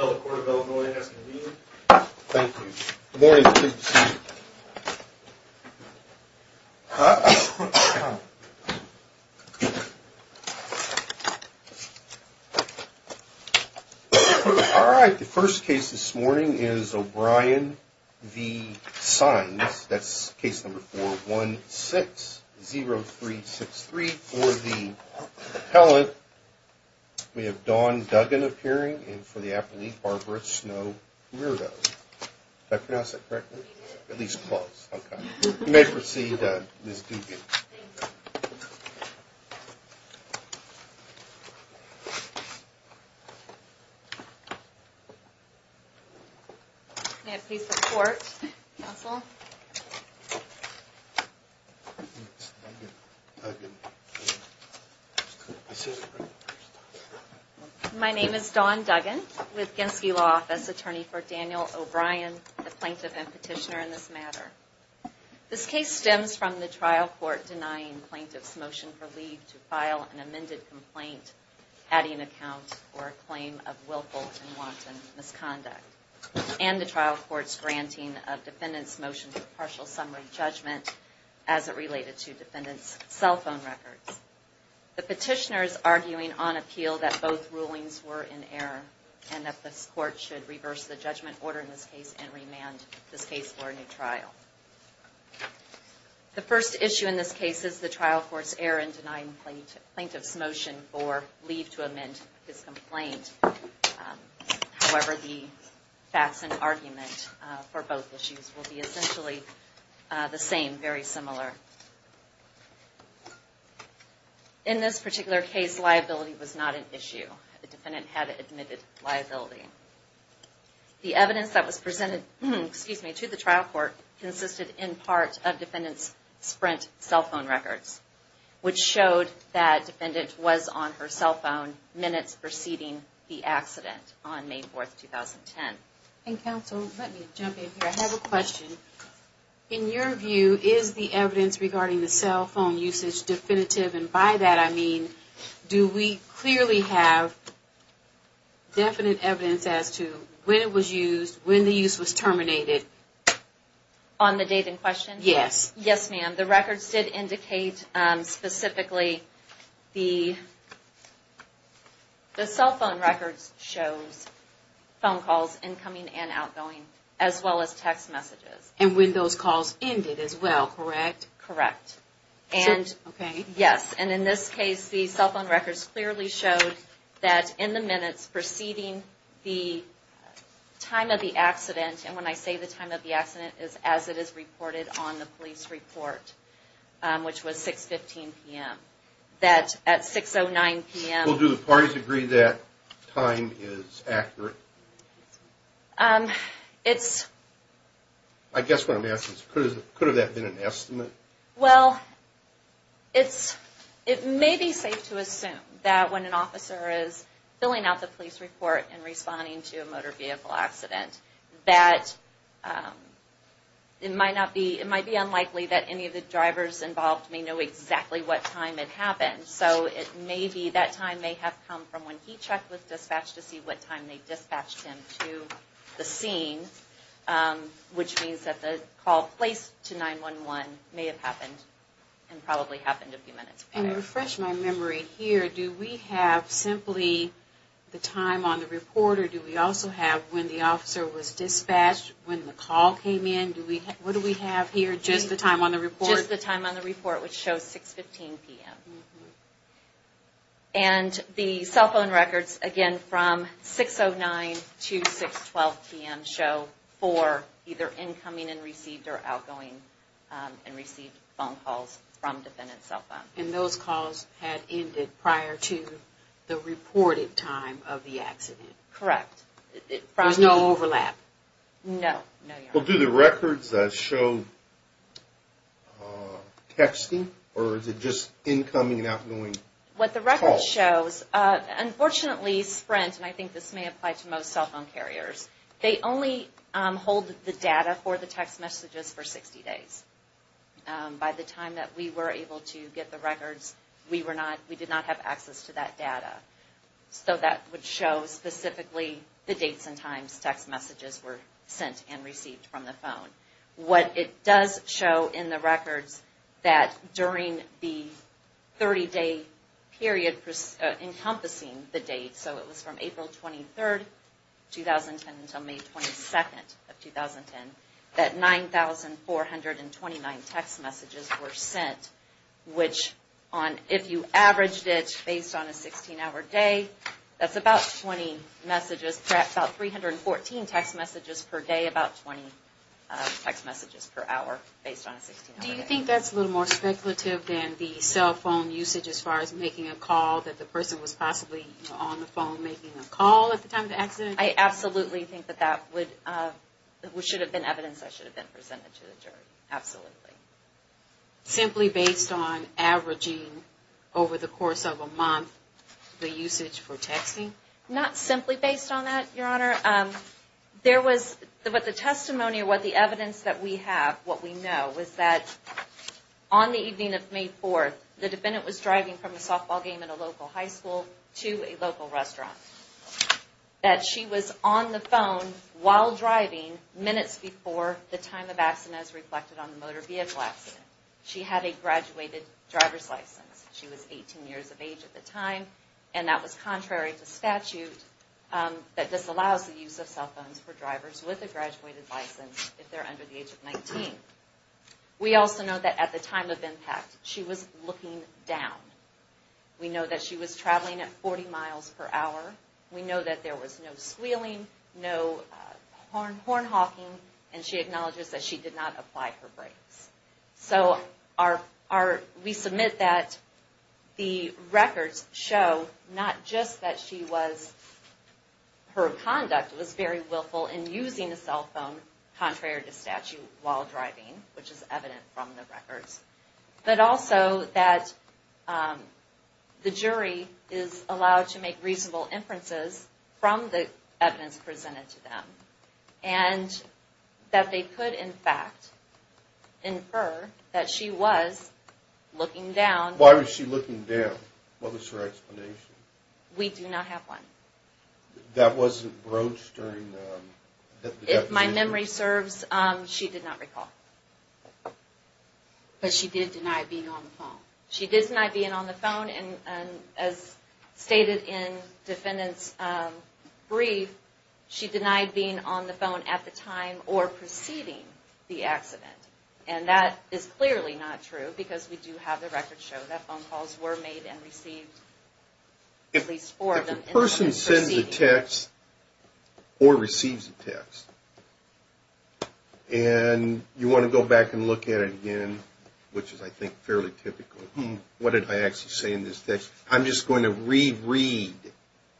All right. The first case this morning is O'Brien v. Sines. That's case number 416-0363 for the appellate. We have Dawn Duggan appearing in for the appellate, Barbara Snow-Murdo. Did I pronounce that correctly? At least close. Okay. You may proceed, Ms. Duggan. May I please report, counsel? My name is Dawn Duggan with Genske Law Office, attorney for Daniel O'Brien, the plaintiff and petitioner in this matter. This case stems from the trial court denying plaintiff's motion for leave to file an amended complaint adding account for a claim of willful and wanton misconduct, and the trial court's granting of defendant's motion for partial summary judgment as it related to defendant's cell phone records. The petitioner is arguing on appeal that both rulings were in error and that this court should reverse the judgment order in this case and remand this case for a new trial. The first issue in this case is the trial court's error in denying plaintiff's motion for leave to amend this complaint. However, the facts and argument for both issues will be essentially the same, very similar. In this particular case, liability was not an issue. The defendant had admitted liability. The evidence that was presented to the trial court consisted in part of defendant's Sprint cell phone records, which showed that defendant was on her cell phone minutes preceding the accident on May 4, 2010. And counsel, let me jump in here. I have a question. In your view, is the evidence regarding the cell phone usage definitive? And by that I mean, do we clearly have definite evidence as to when it was used, when the use was terminated? On the date in question? Yes. Yes, ma'am. The records did indicate specifically the cell phone records shows phone calls, incoming and outgoing, as well as text messages. And when those calls ended as well, correct? Correct. Okay. Yes. And in this case, the cell phone records clearly showed that in the minutes preceding the time of the accident, and when I say the time of the accident, it is as it is reported on the police report, which was 6.15 p.m. That at 6.09 p.m. Well, do the parties agree that time is accurate? It's... I guess what I'm asking is, could that have been an estimate? Well, it may be safe to assume that when an officer is filling out the police report and responding to a motor vehicle accident, that it might be unlikely that any of the drivers involved may know exactly what time it happened. So it may be that time may have come from when he checked with dispatch to see what time they dispatched him to the scene, which means that the call placed to 911 may have happened and probably happened a few minutes prior. And to refresh my memory here, do we have simply the time on the report, or do we also have when the officer was dispatched, when the call came in? What do we have here, just the time on the report? Just the time on the report, which shows 6.15 p.m. And the cell phone records, again, from 6.09 to 6.12 p.m. show for either incoming and received or outgoing and received phone calls from defendant's cell phone. And those calls had ended prior to the reported time of the accident? Correct. There's no overlap? No. Well, do the records show texting, or is it just incoming and outgoing calls? What the record shows, unfortunately, Sprint, and I think this may apply to most cell phone carriers, they only hold the data for the text messages for 60 days. By the time that we were able to get the records, we did not have access to that data. So that would show specifically the dates and times text messages were sent and received from the phone. What it does show in the records that during the 30-day period encompassing the dates, so it was from April 23, 2010 until May 22, 2010, that 9,429 text messages were sent. Which, if you averaged it based on a 16-hour day, that's about 20 messages, perhaps about 314 text messages per day, about 20 text messages per hour based on a 16-hour day. Do you think that's a little more speculative than the cell phone usage as far as making a call, that the person was possibly on the phone making a call at the time of the accident? I absolutely think that that would, should have been evidence that should have been presented to the jury, absolutely. Simply based on averaging over the course of a month the usage for texting? Not simply based on that, Your Honor. There was, but the testimony or what the evidence that we have, what we know, was that on the evening of May 4, the defendant was driving from a softball game at a local high school to a local restaurant. That she was on the phone while driving minutes before the time of accident as reflected on the motor vehicle accident. She had a graduated driver's license. She was 18 years of age at the time, and that was contrary to statute that disallows the use of cell phones for drivers with a graduated license if they're under the age of 19. We also know that at the time of impact, she was looking down. We know that she was traveling at 40 miles per hour. We know that there was no squealing, no horn honking, and she acknowledges that she did not apply her brakes. So, we submit that the records show not just that she was, her conduct was very willful in using a cell phone, contrary to statute, while driving, which is evident from the records. But also that the jury is allowed to make reasonable inferences from the evidence presented to them, and that they could, in fact, infer that she was looking down. Why was she looking down? What was her explanation? We do not have one. That wasn't broached during the... If my memory serves, she did not recall. But she did deny being on the phone. She did deny being on the phone, and as stated in defendant's brief, she denied being on the phone at the time or preceding the accident. And that is clearly not true, because we do have the records show that phone calls were made and received. If a person sends a text or receives a text, and you want to go back and look at it again, which is, I think, fairly typical. What did I actually say in this text? I'm just going to re-read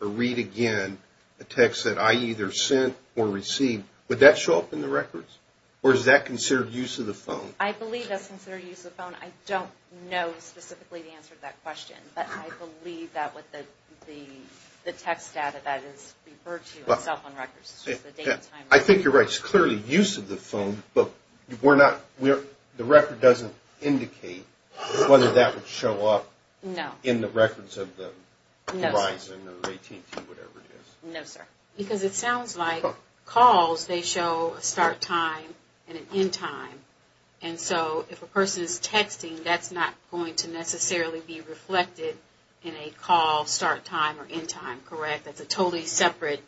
or read again a text that I either sent or received. Would that show up in the records, or is that considered use of the phone? I believe that's considered use of the phone. I don't know specifically the answer to that question, but I believe that with the text data that is referred to in cell phone records. I think you're right. It's clearly use of the phone, but the record doesn't indicate whether that would show up in the records of the Verizon or AT&T or whatever it is. No, sir. Because it sounds like calls, they show a start time and an end time. And so, if a person is texting, that's not going to necessarily be reflected in a call start time or end time, correct? That's a totally separate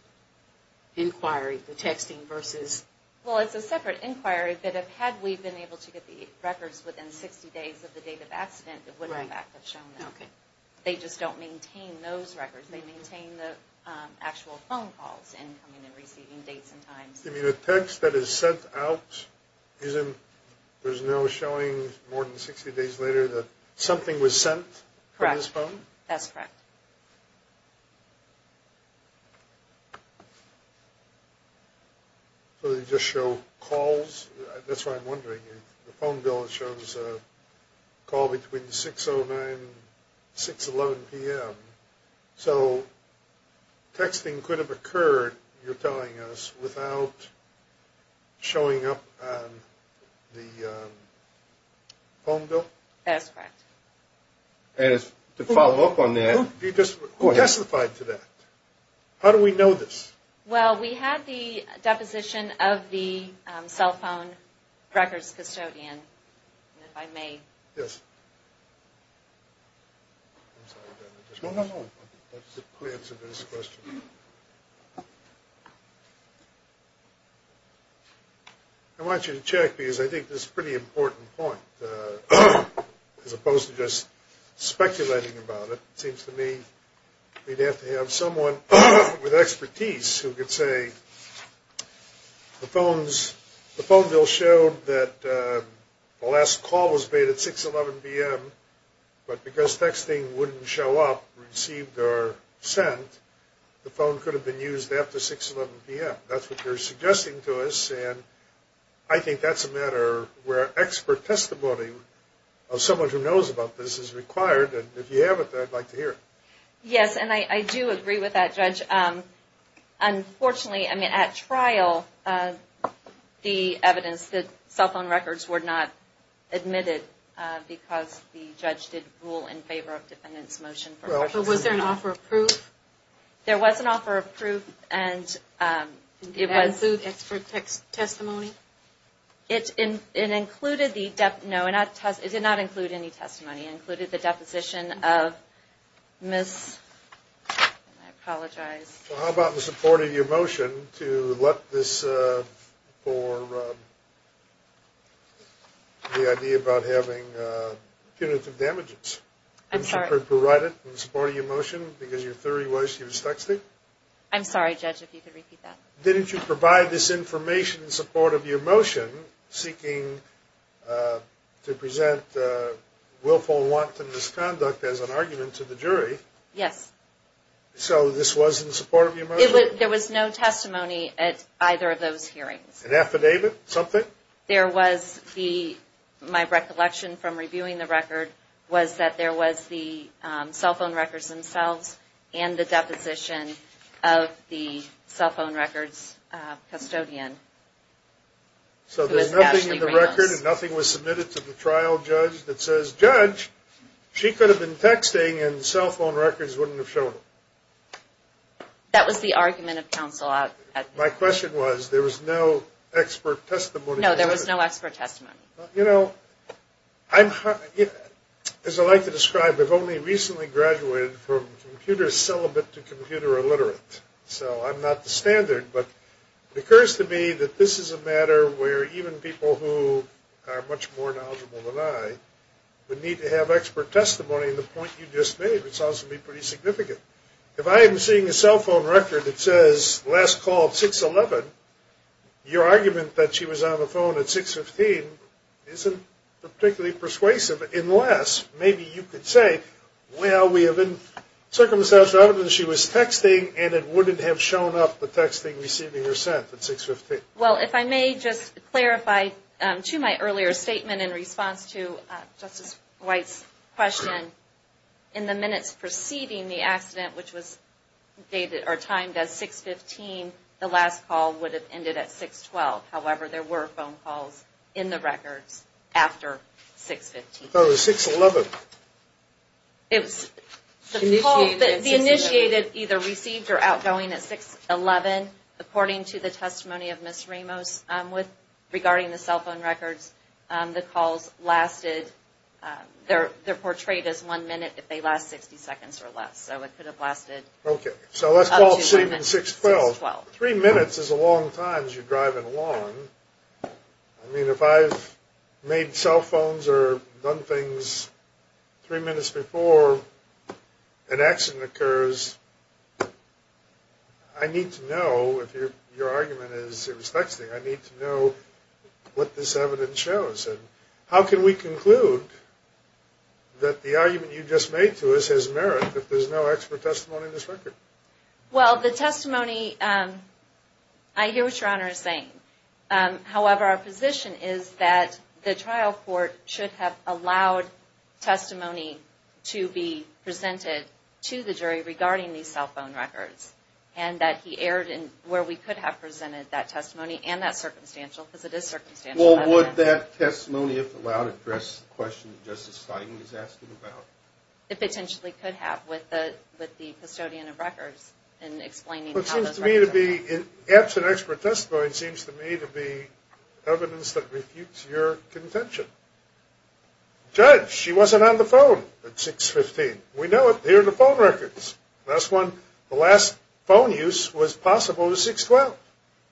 inquiry, the texting versus... Well, it's a separate inquiry, but had we been able to get the records within 60 days of the date of accident, it would, in fact, have shown up. Okay. They just don't maintain those records. They maintain the actual phone calls and coming and receiving dates and times. You mean the text that is sent out isn't... There's no showing more than 60 days later that something was sent from this phone? Correct. That's correct. So they just show calls? That's what I'm wondering. The phone bill shows a call between 6.09 and 6.11 p.m. So texting could have occurred, you're telling us, without showing up on the phone bill? That's correct. And to follow up on that... Who testified to that? How do we know this? Well, we had the deposition of the cell phone records custodian, if I may. Yes. I want you to check because I think this is a pretty important point. As opposed to just speculating about it, it seems to me we'd have to have someone with expertise who could say the phone bill showed that the last call was made at 6.11 p.m., but because texting wouldn't show up, received, or sent, the phone could have been used after 6.11 p.m. That's what you're suggesting to us, and I think that's a matter where expert testimony of someone who knows about this is required. If you have it, I'd like to hear it. Yes, and I do agree with that, Judge. Unfortunately, at trial, the evidence that cell phone records were not admitted because the judge didn't rule in favor of defendant's motion. Was there an offer of proof? There was an offer of proof. Did that include expert testimony? No, it did not include any testimony. It included the deposition of Ms. I apologize. How about in support of your motion to let this for the idea about having punitive damages? I'm sorry? Provide it in support of your motion because your theory was she was texting? I'm sorry, Judge, if you could repeat that. Didn't you provide this information in support of your motion seeking to present willful and wanton misconduct as an argument to the jury? Yes. So this was in support of your motion? There was no testimony at either of those hearings. An affidavit, something? There was the, my recollection from reviewing the record, was that there was the cell phone records themselves and the deposition of the cell phone records custodian. So there's nothing in the record and nothing was submitted to the trial judge that says, Judge, she could have been texting and cell phone records wouldn't have shown up. That was the argument of counsel. My question was there was no expert testimony. No, there was no expert testimony. You know, as I like to describe, I've only recently graduated from computer celibate to computer illiterate. So I'm not the standard, but it occurs to me that this is a matter where even people who are much more knowledgeable than I would need to have expert testimony in the point you just made, which sounds to me pretty significant. If I am seeing a cell phone record that says last call of 6-11, your argument that she was on the phone at 6-15 isn't particularly persuasive, unless maybe you could say, well, we have circumstantial evidence she was texting and it wouldn't have shown up the texting receiving her sent at 6-15. Well, if I may just clarify to my earlier statement in response to Justice White's question, in the minutes preceding the accident, which was dated or timed as 6-15, the last call would have ended at 6-12. However, there were phone calls in the records after 6-15. I thought it was 6-11. It was the call that the initiated either received or outgoing at 6-11. According to the testimony of Ms. Ramos regarding the cell phone records, the calls lasted, they're portrayed as one minute if they last 60 seconds or less. So it could have lasted up to 6-12. Okay, so let's call 7-6-12. Three minutes is a long time as you're driving along. I mean, if I've made cell phones or done things three minutes before an accident occurs, I need to know what this evidence shows. And how can we conclude that the argument you just made to us has merit if there's no expert testimony in this record? Well, the testimony, I hear what Your Honor is saying. However, our position is that the trial court should have allowed testimony to be presented to the jury regarding these cell phone records and that he erred in where we could have presented that testimony and that circumstantial, because it is circumstantial. Well, would that testimony, if allowed, address the question that Justice Feigen is asking about? It potentially could have with the custodian of records in explaining how those records are. Well, it seems to me to be, absent expert testimony, it seems to me to be evidence that refutes your contention. Judge, she wasn't on the phone at 6-15. We know it. Here are the phone records. The last phone use was possible at 6-12.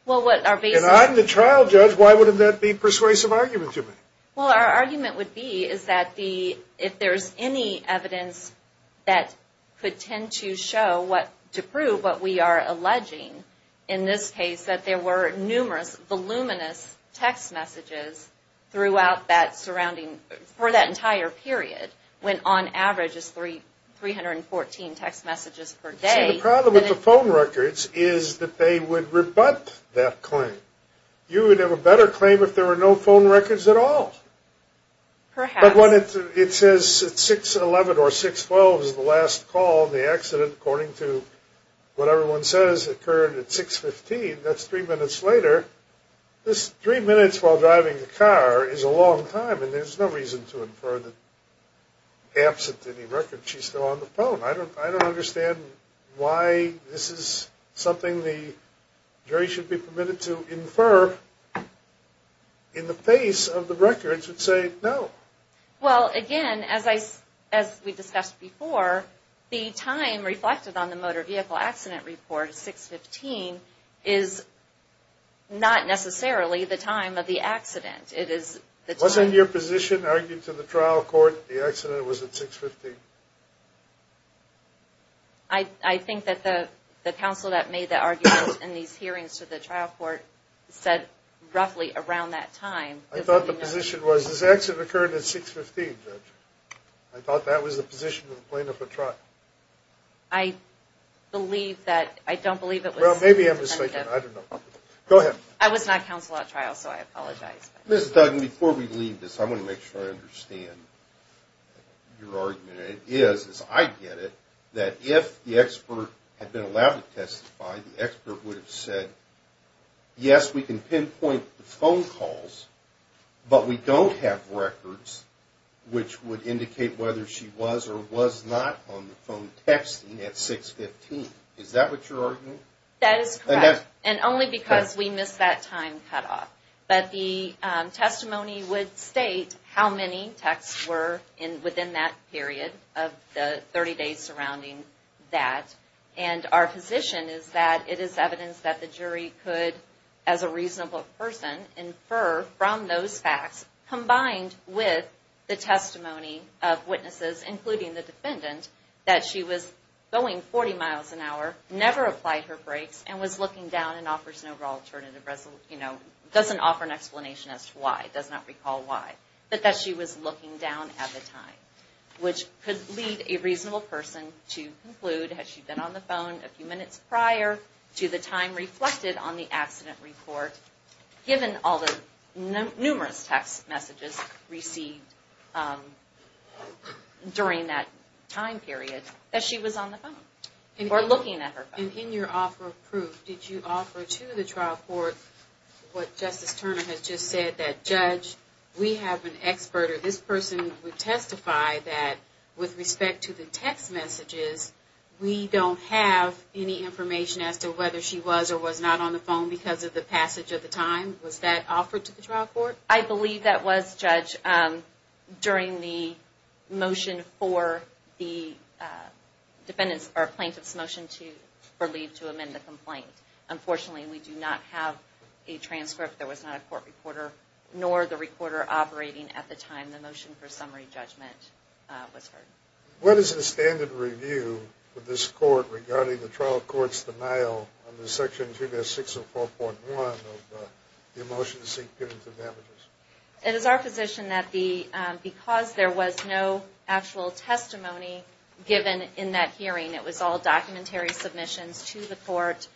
And I'm the trial judge. Why would that be a persuasive argument to me? Well, our argument would be is that if there's any evidence that could tend to show, to prove what we are alleging in this case, that there were numerous voluminous text messages throughout that surrounding, for that entire period, when on average it's 314 text messages per day. See, the problem with the phone records is that they would rebut that claim. You would have a better claim if there were no phone records at all. Perhaps. But when it says at 6-11 or 6-12 is the last call in the accident, according to what everyone says occurred at 6-15, that's three minutes later. Three minutes while driving the car is a long time, and there's no reason to infer that absent any record she's still on the phone. I don't understand why this is something the jury should be permitted to infer in the face of the records that say no. Well, again, as we discussed before, the time reflected on the motor vehicle accident report, 6-15, is not necessarily the time of the accident. It is the time. Wasn't your position argued to the trial court the accident was at 6-15? I think that the counsel that made the argument in these hearings to the trial court said roughly around that time. I thought the position was this accident occurred at 6-15, Judge. I thought that was the position of the plaintiff at trial. I don't believe it was. Well, maybe I'm mistaken. I don't know. Go ahead. I was not counsel at trial, so I apologize. Ms. Duggan, before we leave this, I want to make sure I understand your argument. It is, as I get it, that if the expert had been allowed to testify, the expert would have said, yes, we can pinpoint the phone calls, but we don't have records which would indicate whether she was or was not on the phone texting at 6-15. Is that what you're arguing? That is correct, and only because we missed that time cutoff. But the testimony would state how many texts were within that period of the 30 days surrounding that, and our position is that it is evidence that the jury could, as a reasonable person, infer from those facts, combined with the testimony of witnesses, including the defendant, that she was going 40 miles an hour, never applied her brakes, and was looking down and doesn't offer an explanation as to why, does not recall why, but that she was looking down at the time, which could lead a reasonable person to conclude, had she been on the phone a few minutes prior to the time reflected on the accident report, given all the numerous text messages received during that time period, that she was on the phone, or looking at her phone. And in your offer of proof, did you offer to the trial court what Justice Turner has just said, that judge, we have an expert, or this person would testify, that with respect to the text messages, we don't have any information as to whether she was or was not on the phone because of the passage of the time. Was that offered to the trial court? I believe that was, judge, during the motion for the plaintiff's motion for leave to amend the complaint. Unfortunately, we do not have a transcript, there was not a court reporter, nor the recorder operating at the time the motion for summary judgment was heard. What is the standard review for this court regarding the trial court's denial of the section 2-604.1 of the motion to seek punitive damages? It is our position that because there was no actual testimony given in that hearing, it was all documentary submissions to the court,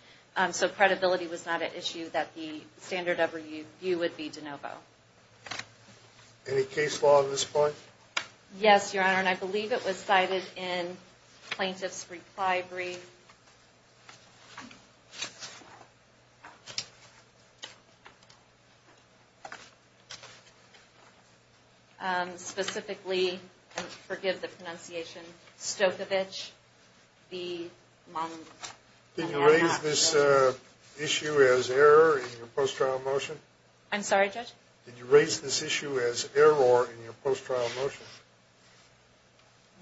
so credibility was not an issue that the standard review would be de novo. Any case law at this point? Yes, Your Honor, and I believe it was cited in Plaintiff's Reply Brief. Specifically, forgive the pronunciation, Stokovich v. Monk. Did you raise this issue as error in your post-trial motion? I'm sorry, judge? Did you raise this issue as error in your post-trial motion?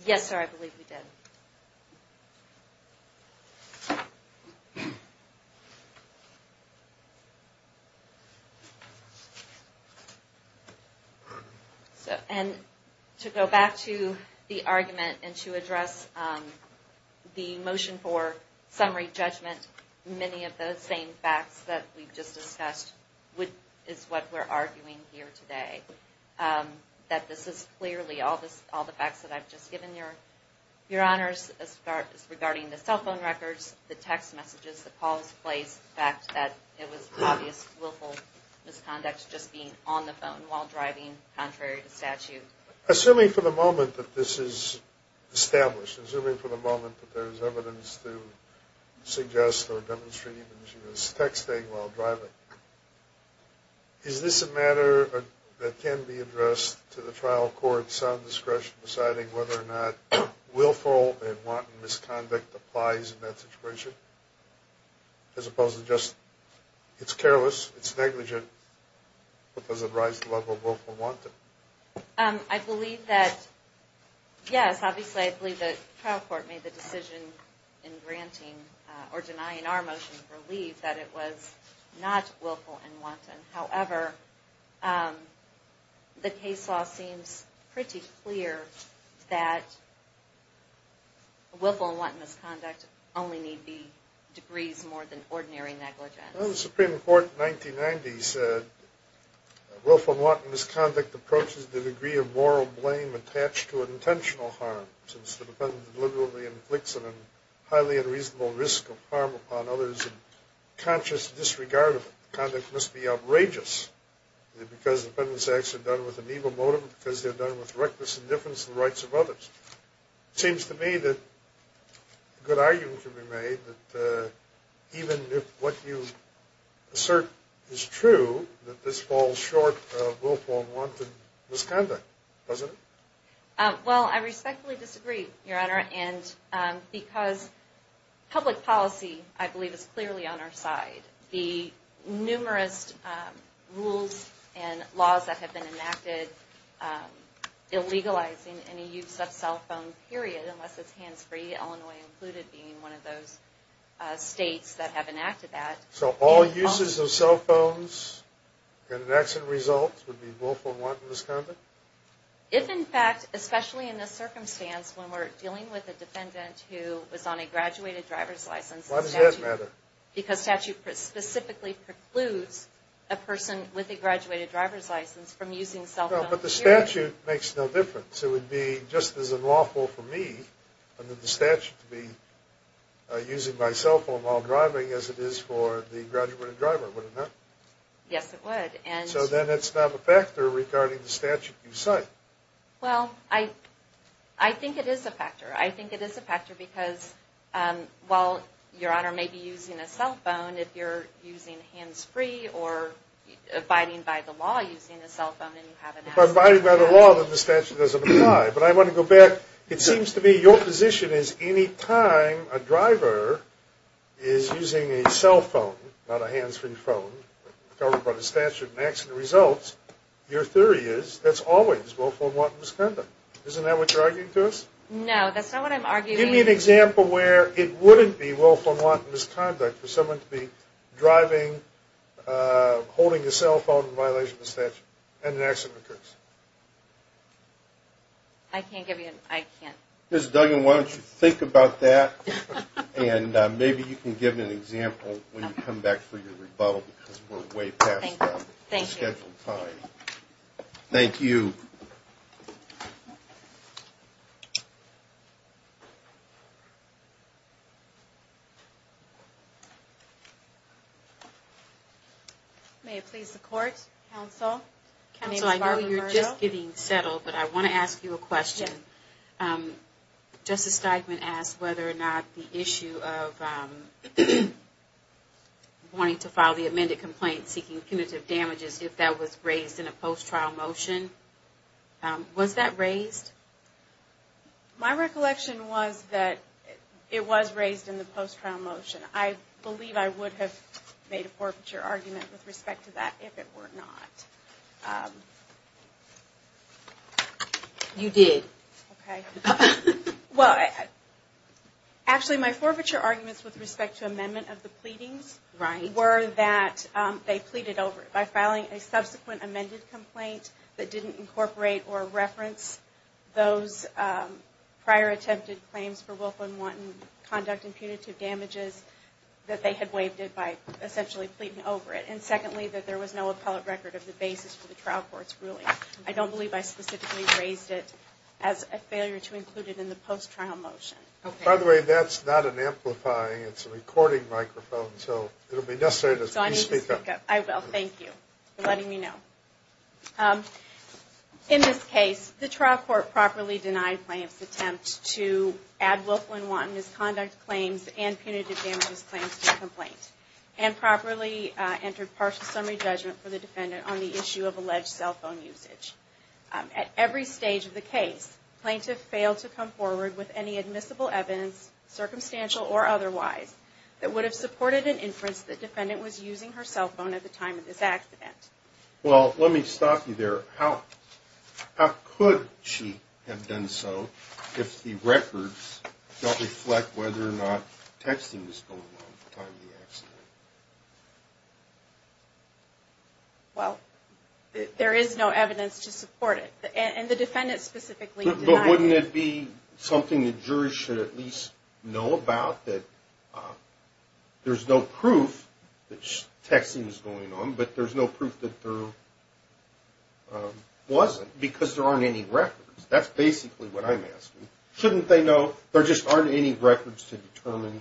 Yes, sir, I believe we did. Thank you. And to go back to the argument and to address the motion for summary judgment, many of those same facts that we've just discussed is what we're arguing here today. That this is clearly all the facts that I've just given, Your Honors, regarding the cell phone records, the text messages, the calls placed, the fact that it was obvious willful misconduct just being on the phone while driving, contrary to statute. Assuming for the moment that this is established, assuming for the moment that there's evidence to suggest or demonstrate that she was texting while driving, is this a matter that can be addressed to the trial court's sound discretion deciding whether or not willful and wanton misconduct applies in that situation? As opposed to just, it's careless, it's negligent, but does it rise to the level of willful wanton? I believe that, yes, obviously I believe that the trial court made the decision in granting or denying our motion of relief that it was not willful and wanton. However, the case law seems pretty clear that willful and wanton misconduct only need be degrees more than ordinary negligence. The Supreme Court in 1990 said, willful and wanton misconduct approaches the degree of moral blame attached to an intentional harm. Since the defendant deliberately inflicts a highly unreasonable risk of harm upon others and conscious disregard of conduct must be outrageous, because the defendant's acts are done with an evil motive, because they're done with reckless indifference to the rights of others. It seems to me that a good argument can be made that even if what you assert is true, that this falls short of willful and wanton misconduct, doesn't it? Well, I respectfully disagree, Your Honor, and because public policy, I believe, is clearly on our side. The numerous rules and laws that have been enacted illegalizing any use of cell phone, period, unless it's hands-free, Illinois included being one of those states that have enacted that. So all uses of cell phones and an accident result would be willful and wanton misconduct? If, in fact, especially in this circumstance, when we're dealing with a defendant who was on a graduated driver's license, Why does that matter? Because statute specifically precludes a person with a graduated driver's license from using cell phones. But the statute makes no difference. It would be just as unlawful for me under the statute to be using my cell phone while driving as it is for the graduated driver, would it not? Yes, it would. So then it's not a factor regarding the statute you cite. Well, I think it is a factor. I think it is a factor because while Your Honor may be using a cell phone, if you're using hands-free or abiding by the law using a cell phone and you have an accident. If I'm abiding by the law, then the statute doesn't apply. But I want to go back. It seems to me your position is any time a driver is using a cell phone, not a hands-free phone, covered by the statute and an accident results, your theory is that's always willful and wanton misconduct. Isn't that what you're arguing to us? No, that's not what I'm arguing. Give me an example where it wouldn't be willful and wanton misconduct for someone to be driving, holding a cell phone in violation of the statute and an accident occurs. I can't give you an, I can't. Ms. Duggan, why don't you think about that and maybe you can give an example when you come back for your rebuttal because we're way past our scheduled time. Thank you. May it please the Court, Counsel. Counsel, I know you're just getting settled, but I want to ask you a question. Justice Steigman asked whether or not the issue of wanting to file the amended complaint seeking punitive damages, if that was raised in a post-trial motion. Was that raised? My recollection was that it was raised in the post-trial motion. I believe I would have made a forfeiture argument with respect to that if it were not. You did. Okay. Well, actually my forfeiture arguments with respect to amendment of the pleadings were that they pleaded over it by filing a subsequent amended complaint that didn't incorporate or reference those prior attempted claims for willful and wanton conduct and punitive damages that they had waived it by essentially pleading over it. And secondly, that there was no appellate record of the basis for the trial court's ruling. I don't believe I specifically raised it as a failure to include it in the post-trial motion. By the way, that's not an amplifying, it's a recording microphone, so it will be necessary to speak up. I will. Thank you for letting me know. In this case, the trial court properly denied plaintiff's attempt to add willful and wanton misconduct claims and punitive damages claims to the complaint and properly entered partial summary judgment for the defendant on the issue of alleged cell phone usage. At every stage of the case, plaintiff failed to come forward with any admissible evidence, circumstantial or otherwise, that would have supported an inference that defendant was using her cell phone at the time of this accident. Well, let me stop you there. How could she have done so if the records don't reflect whether or not texting was going on at the time of the accident? Well, there is no evidence to support it. And the defendant specifically denied it. But wouldn't it be something the jury should at least know about that there's no proof that texting was going on, but there's no proof that there wasn't, because there aren't any records. That's basically what I'm asking. Shouldn't they know there just aren't any records to determine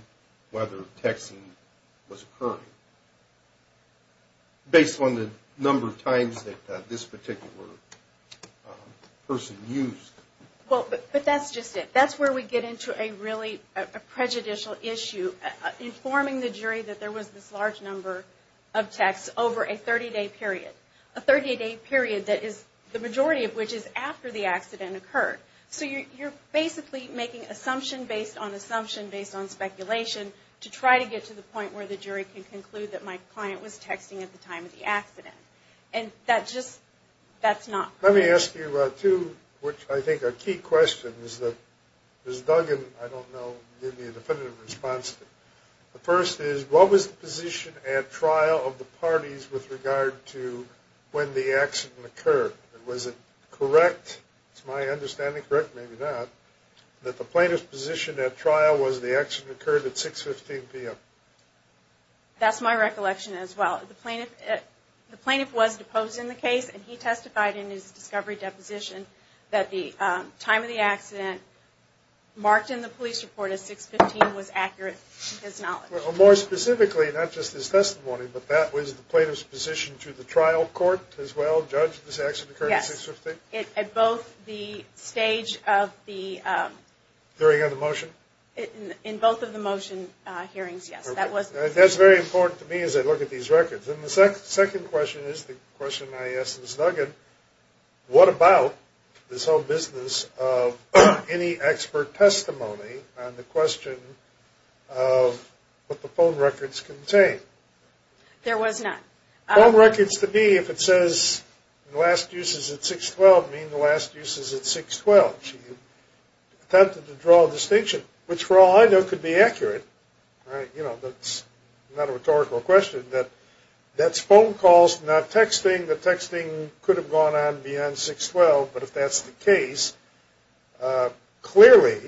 whether texting was occurring, based on the number of times that this particular person used? Well, but that's just it. That's where we get into a really prejudicial issue. Informing the jury that there was this large number of texts over a 30-day period, a 30-day period that is the majority of which is after the accident occurred. So you're basically making assumption based on assumption based on speculation to try to get to the point where the jury can conclude that my client was texting at the time of the accident. And that's just not correct. Let me ask you two, which I think are key questions that Ms. Duggan, I don't know, gave me a definitive response to. The first is, what was the position at trial of the parties with regard to when the accident occurred? Was it correct, it's my understanding, correct, maybe not, that the plaintiff's position at trial was the accident occurred at 6.15 p.m.? That's my recollection as well. The plaintiff was deposed in the case, and he testified in his discovery deposition that the time of the accident marked in the police report as 6.15 was accurate to his knowledge. Well, more specifically, not just his testimony, but that was the plaintiff's position to the trial court as well, judge, this accident occurred at 6.15? Yes. At both the stage of the... Hearing of the motion? In both of the motion hearings, yes. That's very important to me as I look at these records. And the second question is the question I asked Ms. Duggan, what about this whole business of any expert testimony on the question of what the phone records contain? There was none. Phone records to me, if it says the last use is at 6.12, mean the last use is at 6.12. She attempted to draw a distinction, which for all I know could be accurate. You know, that's not a rhetorical question. That's phone calls, not texting. The texting could have gone on beyond 6.12, but if that's the case, clearly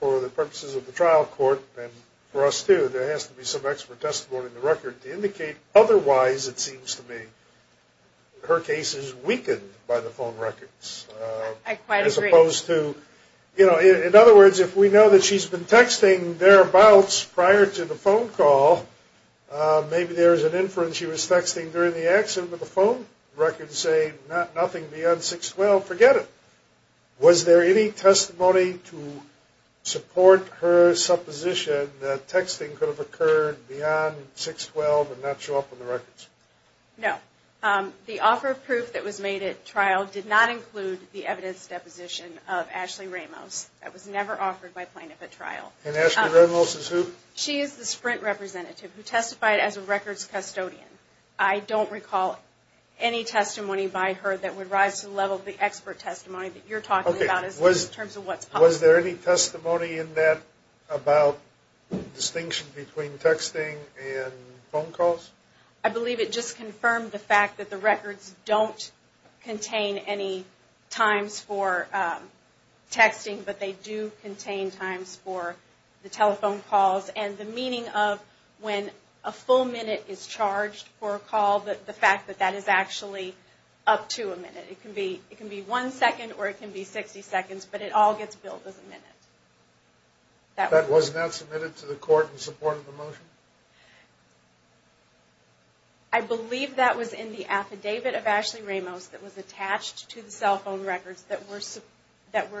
for the purposes of the trial court, and for us too, there has to be some expert testimony in the record to indicate otherwise, it seems to me, her case is weakened by the phone records. I quite agree. In other words, if we know that she's been texting thereabouts prior to the phone call, maybe there is an inference she was texting during the accident with the phone records saying nothing beyond 6.12. Forget it. Was there any testimony to support her supposition that texting could have occurred beyond 6.12 and not show up in the records? No. The offer of proof that was made at trial did not include the evidence deposition of Ashley Ramos. That was never offered by plaintiff at trial. And Ashley Ramos is who? She is the Sprint representative who testified as a records custodian. I don't recall any testimony by her that would rise to the level of the expert testimony that you're talking about in terms of what's possible. Was there any testimony in that about distinction between texting and phone calls? I believe it just confirmed the fact that the records don't contain any times for texting, but they do contain times for the telephone calls and the meaning of when a full minute is charged for a call, the fact that that is actually up to a minute. It can be one second or it can be 60 seconds, but it all gets billed as a minute. That was not submitted to the court in support of the motion? No. I believe that was in the affidavit of Ashley Ramos that was attached to the cell phone records that were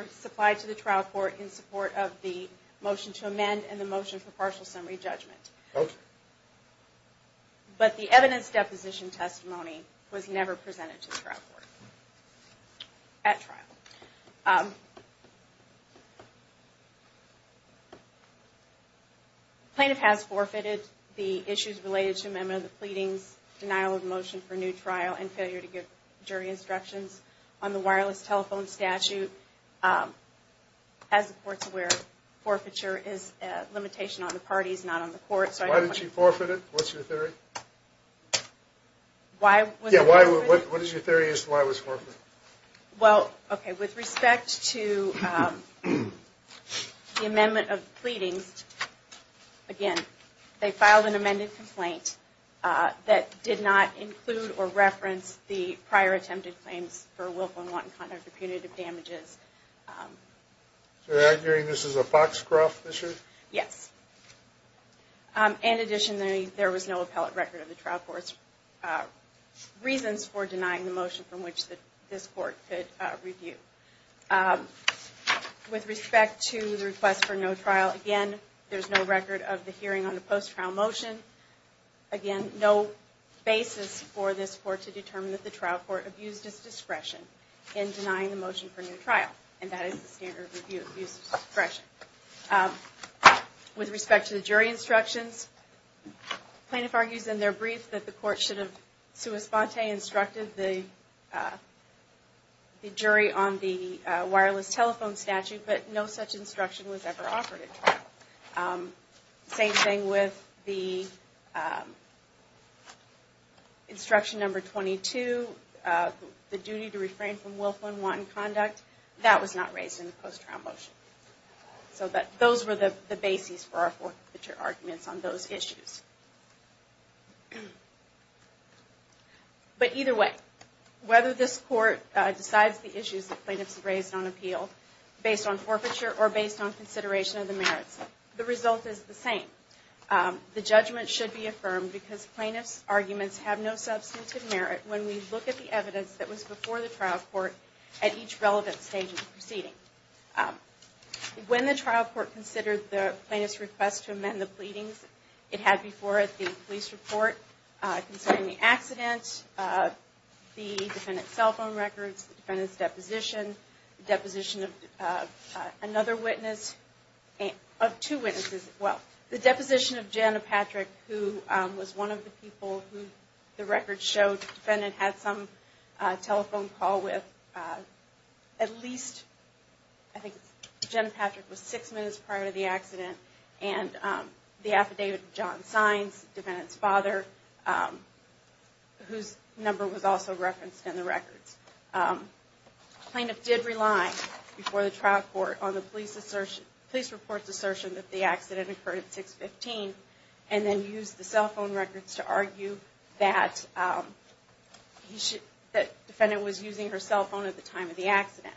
supplied to the trial court in support of the motion to amend and the motion for partial summary judgment. Okay. But the evidence deposition testimony was never presented to the trial court at trial. Okay. Plaintiff has forfeited the issues related to amendment of the pleadings, denial of motion for new trial and failure to give jury instructions on the wireless telephone statute. As the court's aware, forfeiture is a limitation on the parties, not on the court. Why did she forfeit it? What's your theory? What is your theory as to why it was forfeited? Well, okay, with respect to the amendment of the pleadings, again, they filed an amended complaint that did not include or reference the prior attempted claims for willful and wanton conduct or punitive damages. So they're arguing this is a boxcroft issue? Yes. In addition, there was no appellate record of the trial court's reasons for denying the motion from which this court could review. With respect to the request for no trial, again, there's no record of the hearing on the post-trial motion. Again, no basis for this court to determine that the trial court abused its discretion in denying the motion for new trial, and that is the standard of abuse of discretion. With respect to the jury instructions, plaintiff argues in their brief that the court should have sua sponte instructed the jury on the wireless telephone statute, but no such instruction was ever offered at trial. Same thing with the instruction number 22, the duty to refrain from willful and wanton conduct. That was not raised in the post-trial motion. So those were the bases for our arguments on those issues. But either way, whether this court decides the issues that plaintiffs have raised on appeal based on forfeiture or based on consideration of the merits, the result is the same. The judgment should be affirmed because plaintiff's arguments have no substantive merit when we look at the evidence that was before the trial court at each relevant stage of the proceeding. When the trial court considered the plaintiff's request to amend the pleadings it had before it the police report concerning the accident, the defendant's cell phone records, the defendant's deposition, the deposition of another witness, of two witnesses as well. The deposition of Jenna Patrick, who was one of the people who the record showed the defendant had some telephone call with at least, and the affidavit of John Sines, the defendant's father, whose number was also referenced in the records. The plaintiff did rely before the trial court on the police report's assertion that the accident occurred at 6-15 and then used the cell phone records to argue that the defendant was using her cell phone at the time of the accident.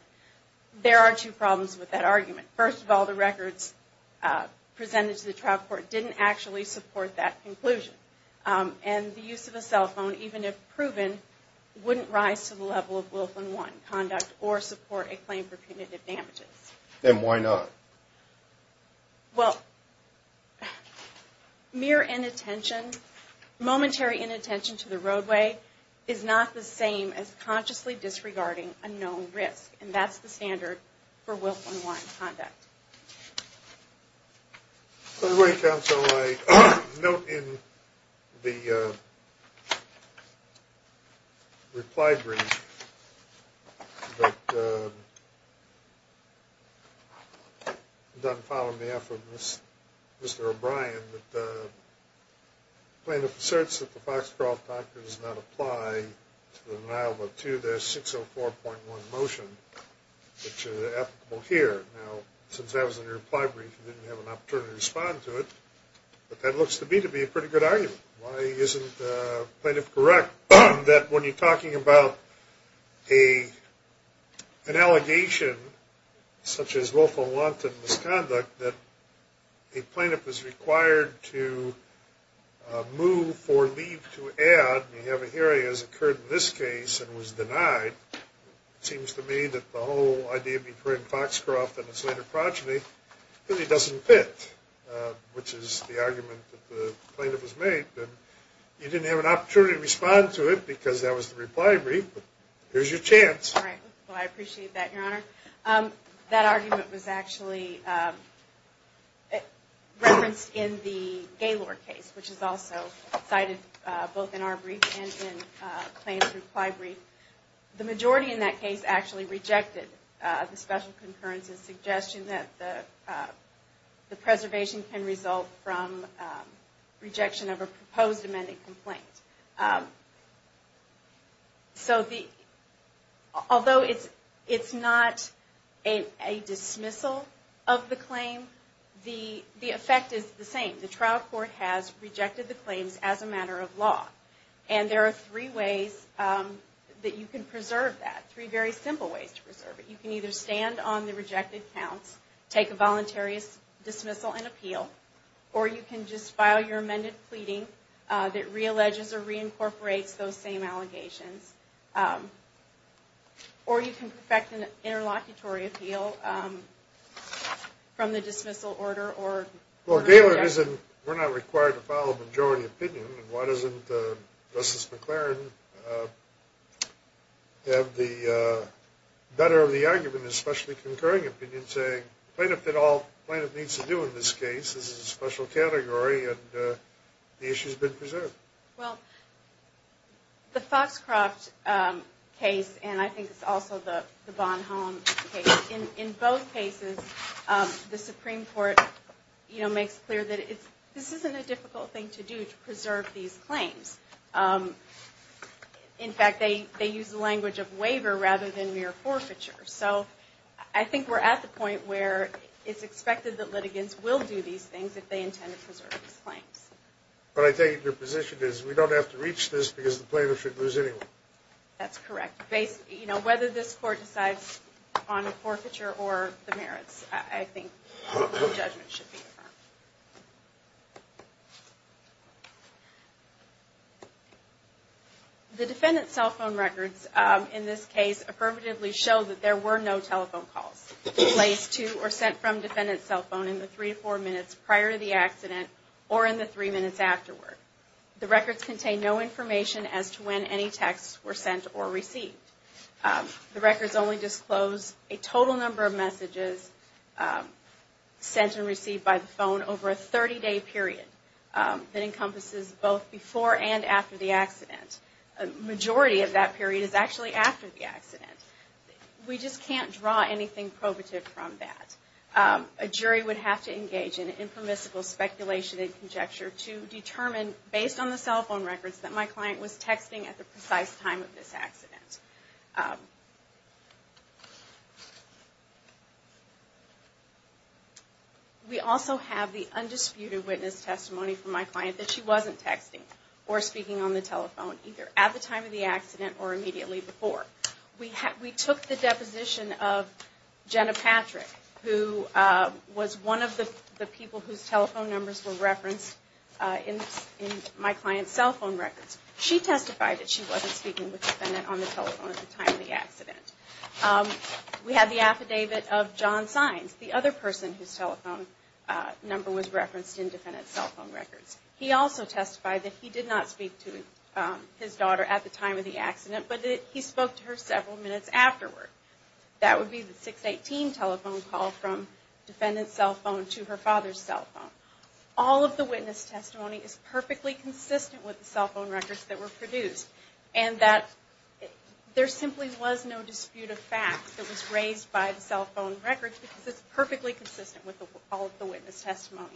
There are two problems with that argument. First of all, the records presented to the trial court didn't actually support that conclusion. And the use of a cell phone, even if proven, wouldn't rise to the level of Wilf and Wynne conduct or support a claim for punitive damages. Then why not? Well, mere inattention, momentary inattention to the roadway is not the same as consciously disregarding a known risk. And that's the standard for Wilf and Wynne conduct. I note in the reply brief that done following the effort of Mr. O'Brien, the plaintiff asserts that the Foxcroft Act does not apply to the denial of a 2-604.1 motion. It's applicable here. Now, since that was in your reply brief, you didn't have an opportunity to respond to it. But that looks to me to be a pretty good argument. Why isn't the plaintiff correct that when you're talking about an allegation such as Wilf and Wynne misconduct, that a plaintiff is required to move for leave to add, and you have a hearing as occurred in this case and was denied, it seems to me that the whole idea between Foxcroft and his later progeny really doesn't fit, which is the argument that the plaintiff has made. And you didn't have an opportunity to respond to it because that was the reply brief, but here's your chance. All right. Well, I appreciate that, Your Honor. That argument was actually referenced in the Gaylor case, which is also cited both in our brief and in the claim's reply brief. The majority in that case actually rejected the special concurrence and suggestion that the preservation can result from rejection of a proposed amended complaint. So although it's not a dismissal of the claim, the effect is the same. The trial court has rejected the claims as a matter of law. And there are three ways that you can preserve that, three very simple ways to preserve it. You can either stand on the rejected counts, take a voluntary dismissal and appeal, or you can just file your amended pleading that realleges or reincorporates those same allegations. Or you can perfect an interlocutory appeal from the dismissal order. Well, Gaylor, we're not required to file a majority opinion, and why doesn't Justice McLaren have the better of the argument, especially concurring opinion, saying plaintiff did all plaintiff needs to do in this case, this is a special category, and the issue's been preserved? Well, the Foxcroft case, and I think it's also the Von Hollen case, in both cases the Supreme Court makes clear that this isn't a difficult thing to do to preserve these claims. In fact, they use the language of waiver rather than mere forfeiture. So I think we're at the point where it's expected that litigants will do these things if they intend to preserve these claims. But I take it your position is we don't have to reach this because the plaintiff shouldn't lose anyone. That's correct. Whether this court decides on a forfeiture or the merits, I think the judgment should be affirmed. The defendant's cell phone records in this case affirmatively show that there were no telephone calls placed to or sent from defendant's cell phone in the three to four minutes prior to the accident or in the three minutes afterward. The records contain no information as to when any texts were sent or received. The records only disclose a total number of messages sent and received by the phone over a 30-day period that encompasses both before and after the accident. A majority of that period is actually after the accident. We just can't draw anything probative from that. A jury would have to engage in informatical speculation and conjecture to determine, based on the cell phone records, that my client was texting at the precise time of this accident. We also have the undisputed witness testimony from my client that she wasn't texting or speaking on the telephone, either at the time of the accident or immediately before. We took the deposition of Jenna Patrick, who was one of the people whose telephone numbers were referenced in my client's cell phone records. She testified that she wasn't speaking with the defendant on the telephone at the time of the accident. We have the affidavit of John Sines, the other person whose telephone number was referenced in defendant's cell phone records. He also testified that he did not speak to his daughter at the time of the accident, but he spoke to her several minutes afterward. That would be the 618 telephone call from defendant's cell phone to her father's cell phone. All of the witness testimony is perfectly consistent with the cell phone records that were produced, and that there simply was no dispute of fact that was raised by the cell phone records because it's perfectly consistent with all of the witness testimony.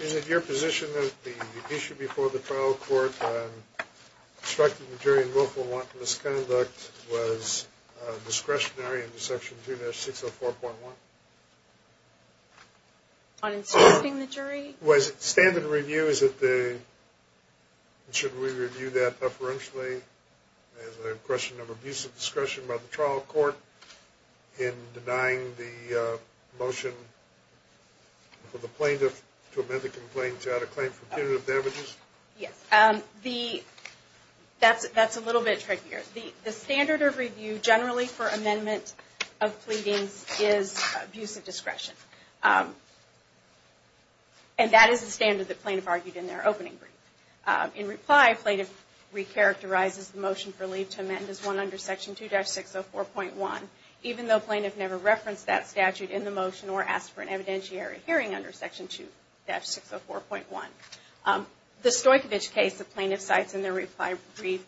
Is it your position that the issue before the trial court on obstructing the jury in willful misconduct was discretionary under Section 2-604.1? On obstructing the jury? Was it standard review? Should we review that preferentially as a question of abuse of discretion by the trial court in denying the motion for the plaintiff to amend the complaint to add a claim for punitive damages? Yes. That's a little bit trickier. The standard of review generally for amendment of pleadings is abuse of discretion, and that is the standard that plaintiff argued in their opening brief. In reply, plaintiff re-characterizes the motion for leave to amend as one under Section 2-604.1, even though plaintiff never referenced that statute in the motion or asked for an evidentiary hearing under Section 2-604.1. The Stoykovich case the plaintiff cites in their reply brief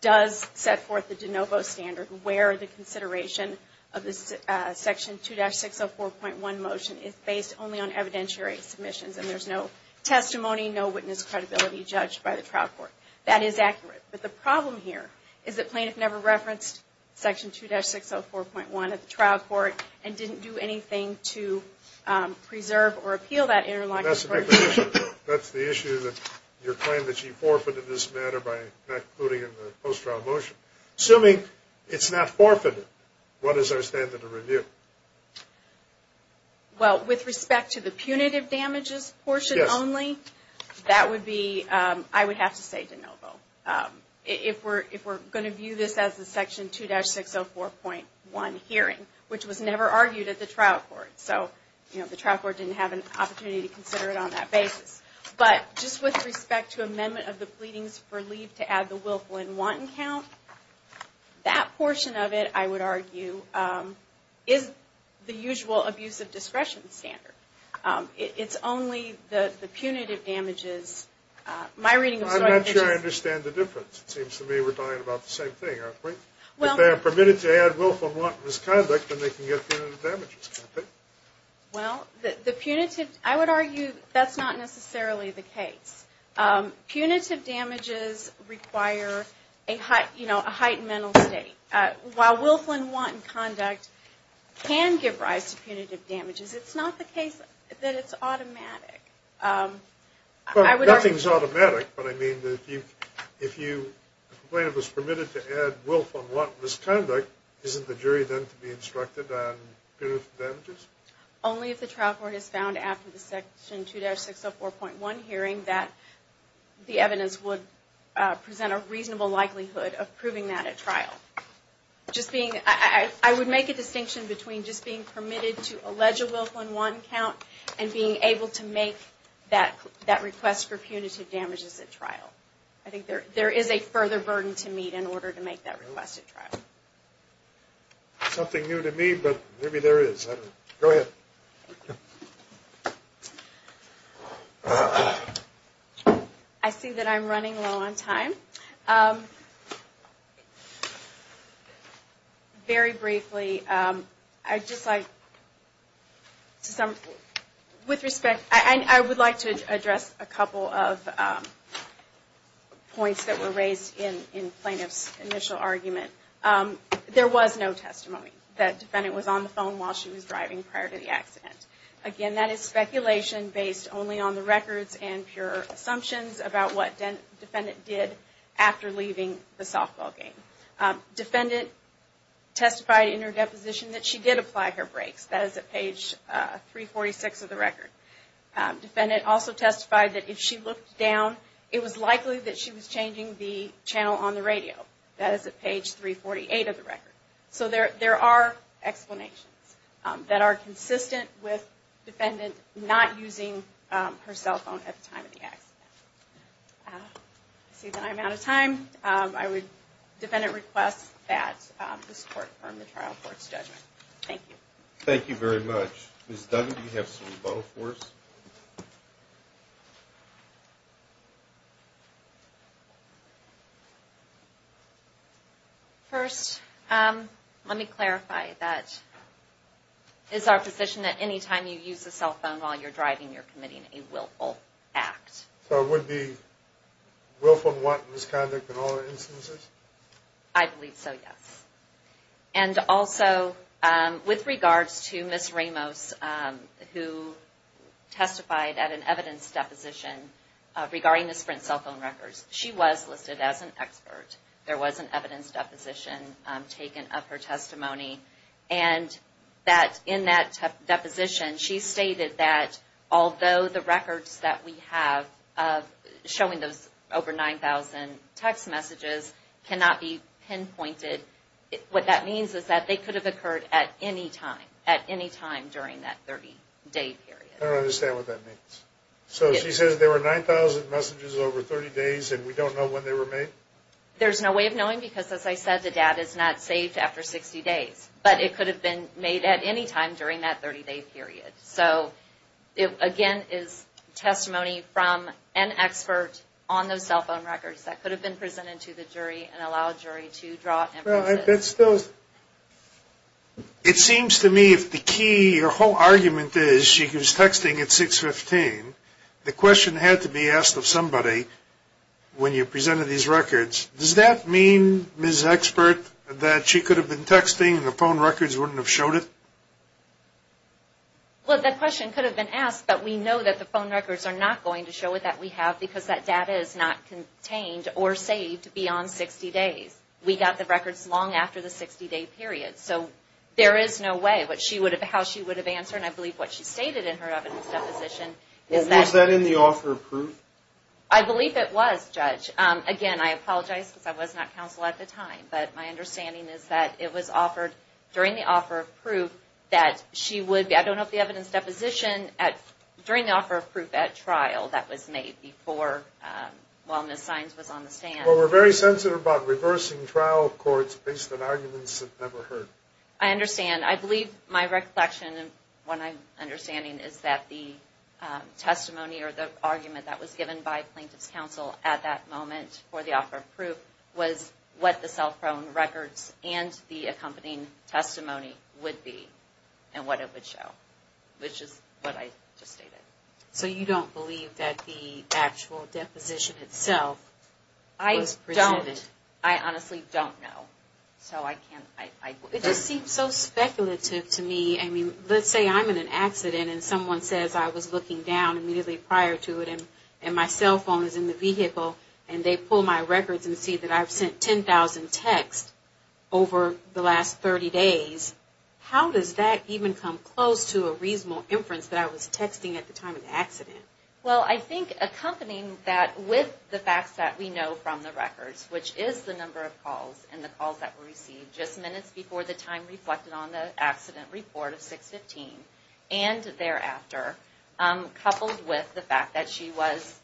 does set forth the de novo standard where the consideration of the Section 2-604.1 motion is based only on evidentiary submissions, and there's no testimony, no witness credibility judged by the trial court. That is accurate. But the problem here is that plaintiff never referenced Section 2-604.1 at the trial court and didn't do anything to preserve or appeal that interlocking court decision. That's the issue that your claim that you forfeited this matter by not including it in the post-trial motion. Assuming it's not forfeited, what is our standard of review? Well, with respect to the punitive damages portion only, that would be, I would have to say de novo. If we're going to view this as a Section 2-604.1 hearing, which was never argued at the trial court. So, you know, the trial court didn't have an opportunity to consider it on that basis. But just with respect to amendment of the pleadings for leave to add the willful and wanton count, that portion of it, I would argue, is the usual abuse of discretion standard. It's only the punitive damages. My reading of the story is... I'm not sure I understand the difference. It seems to me we're talking about the same thing, aren't we? Well... If they are permitted to add willful and wanton misconduct, then they can get punitive damages, can't they? Well, the punitive, I would argue that's not necessarily the case. Punitive damages require, you know, a heightened mental state. While willful and wanton conduct can give rise to punitive damages, it's not the case that it's automatic. Nothing's automatic, but I mean, if a complainant was permitted to add willful and wanton misconduct, isn't the jury then to be instructed on punitive damages? Only if the trial court has found, after the Section 2-604.1 hearing, that the evidence would present a reasonable likelihood of proving that at trial. I would make a distinction between just being permitted to allege a willful and wanton count and being able to make that request for punitive damages at trial. I think there is a further burden to meet in order to make that request at trial. Something new to me, but maybe there is. Go ahead. I see that I'm running low on time. Very briefly, I would like to address a couple of points that were raised in plaintiff's initial argument. There was no testimony that defendant was on the phone while she was driving prior to the accident. Again, that is speculation based only on the records and pure assumptions about what defendant did after leaving the softball game. Defendant testified in her deposition that she did apply her brakes. That is at page 346 of the record. Defendant also testified that if she looked down, it was likely that she was changing the channel on the radio. That is at page 348 of the record. There are explanations that are consistent with defendant not using her cell phone at the time of the accident. I see that I'm out of time. I would, defendant, request that this court confirm the trial court's judgment. Thank you. Thank you very much. Ms. Duggan, do you have some vote for us? First, let me clarify that it is our position that any time you use a cell phone while you're driving, you're committing a willful act. So it would be willful misconduct in all instances? I believe so, yes. And also, with regards to Ms. Ramos, who testified at an evidence deposition regarding the Sprint cell phone records, she was listed as an expert. There was an evidence deposition taken of her testimony, and in that deposition, she stated that although the records that we have showing those over 9,000 text messages cannot be pinpointed, what that means is that they could have occurred at any time, at any time during that 30-day period. I don't understand what that means. So she says there were 9,000 messages over 30 days, and we don't know when they were made? There's no way of knowing because, as I said, the data is not saved after 60 days. But it could have been made at any time during that 30-day period. So, again, it's testimony from an expert on those cell phone records that could have been presented to the jury and allowed jury to draw inferences. Well, I bet still it seems to me if the key or whole argument is she was texting at 615, the question had to be asked of somebody when you presented these records. Does that mean, Ms. Expert, that she could have been texting and the phone records wouldn't have showed it? Well, that question could have been asked, but we know that the phone records are not going to show it, that we have, because that data is not contained or saved beyond 60 days. We got the records long after the 60-day period. So there is no way how she would have answered. And I believe what she stated in her evidence deposition is that... Was that in the offer of proof? I believe it was, Judge. Again, I apologize because I was not counsel at the time. But my understanding is that it was offered during the offer of proof that she would be... I don't know if the evidence deposition during the offer of proof at trial that was made before, while Ms. Sines was on the stand. Well, we're very sensitive about reversing trial courts based on arguments that never heard. I understand. I believe my reflection and what I'm understanding is that the testimony or the argument that was given by plaintiff's counsel at that moment for the offer of proof was what the cell phone records and the accompanying testimony would be and what it would show, which is what I just stated. So you don't believe that the actual deposition itself was presented? I don't. I honestly don't know. So I can't... It just seems so speculative to me. I mean, let's say I'm in an accident and someone says I was looking down immediately prior to it and my cell phone is in the vehicle and they pull my records and see that I've sent 10,000 texts over the last 30 days. How does that even come close to a reasonable inference that I was texting at the time of the accident? Well, I think accompanying that with the facts that we know from the records, which is the number of calls and the calls that were received just minutes before the time reflected on the accident report of 6-15 and thereafter, coupled with the fact that she was...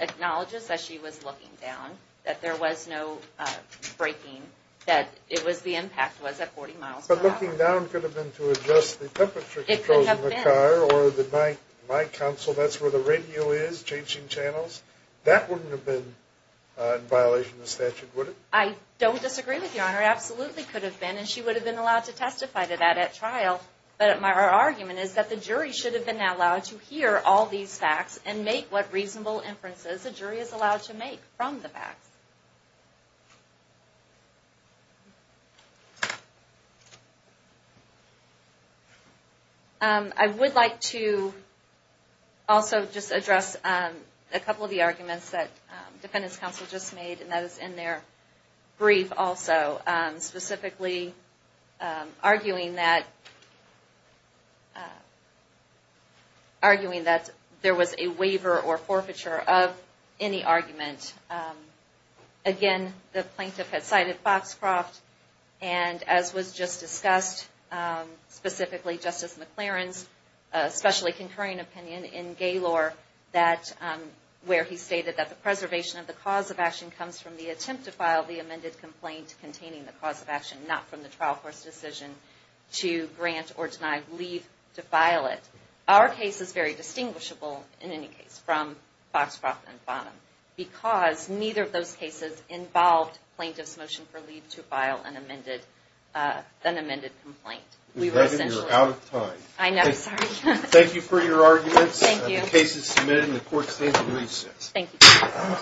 acknowledges that she was looking down, that there was no braking, that the impact was at 40 miles per hour. But looking down could have been to adjust the temperature... It could have been. ...that goes in the car or my console, that's where the radio is, changing channels. That wouldn't have been in violation of the statute, would it? I don't disagree with Your Honor. It absolutely could have been, and she would have been allowed to testify to that at trial. But our argument is that the jury should have been allowed to hear all these facts and make what reasonable inferences a jury is allowed to make from the facts. I would like to also just address a couple of the arguments that defendants' counsel just made, and that is in their brief also, specifically arguing that... arguing that there was a waiver or forfeiture of any argument. Again, the plaintiff had cited Foxcroft and, as was just discussed, specifically Justice McLaren's especially concurring opinion in Gaylor that... from the attempt to file the amended complaint containing the cause of action, not from the trial court's decision to grant or deny leave to file it. Our case is very distinguishable, in any case, from Foxcroft and Bonham because neither of those cases involved plaintiff's motion for leave to file an amended complaint. We were essentially... We're out of time. I know, sorry. Thank you for your arguments. Thank you. The case is submitted, and the Court stands in recess. Thank you.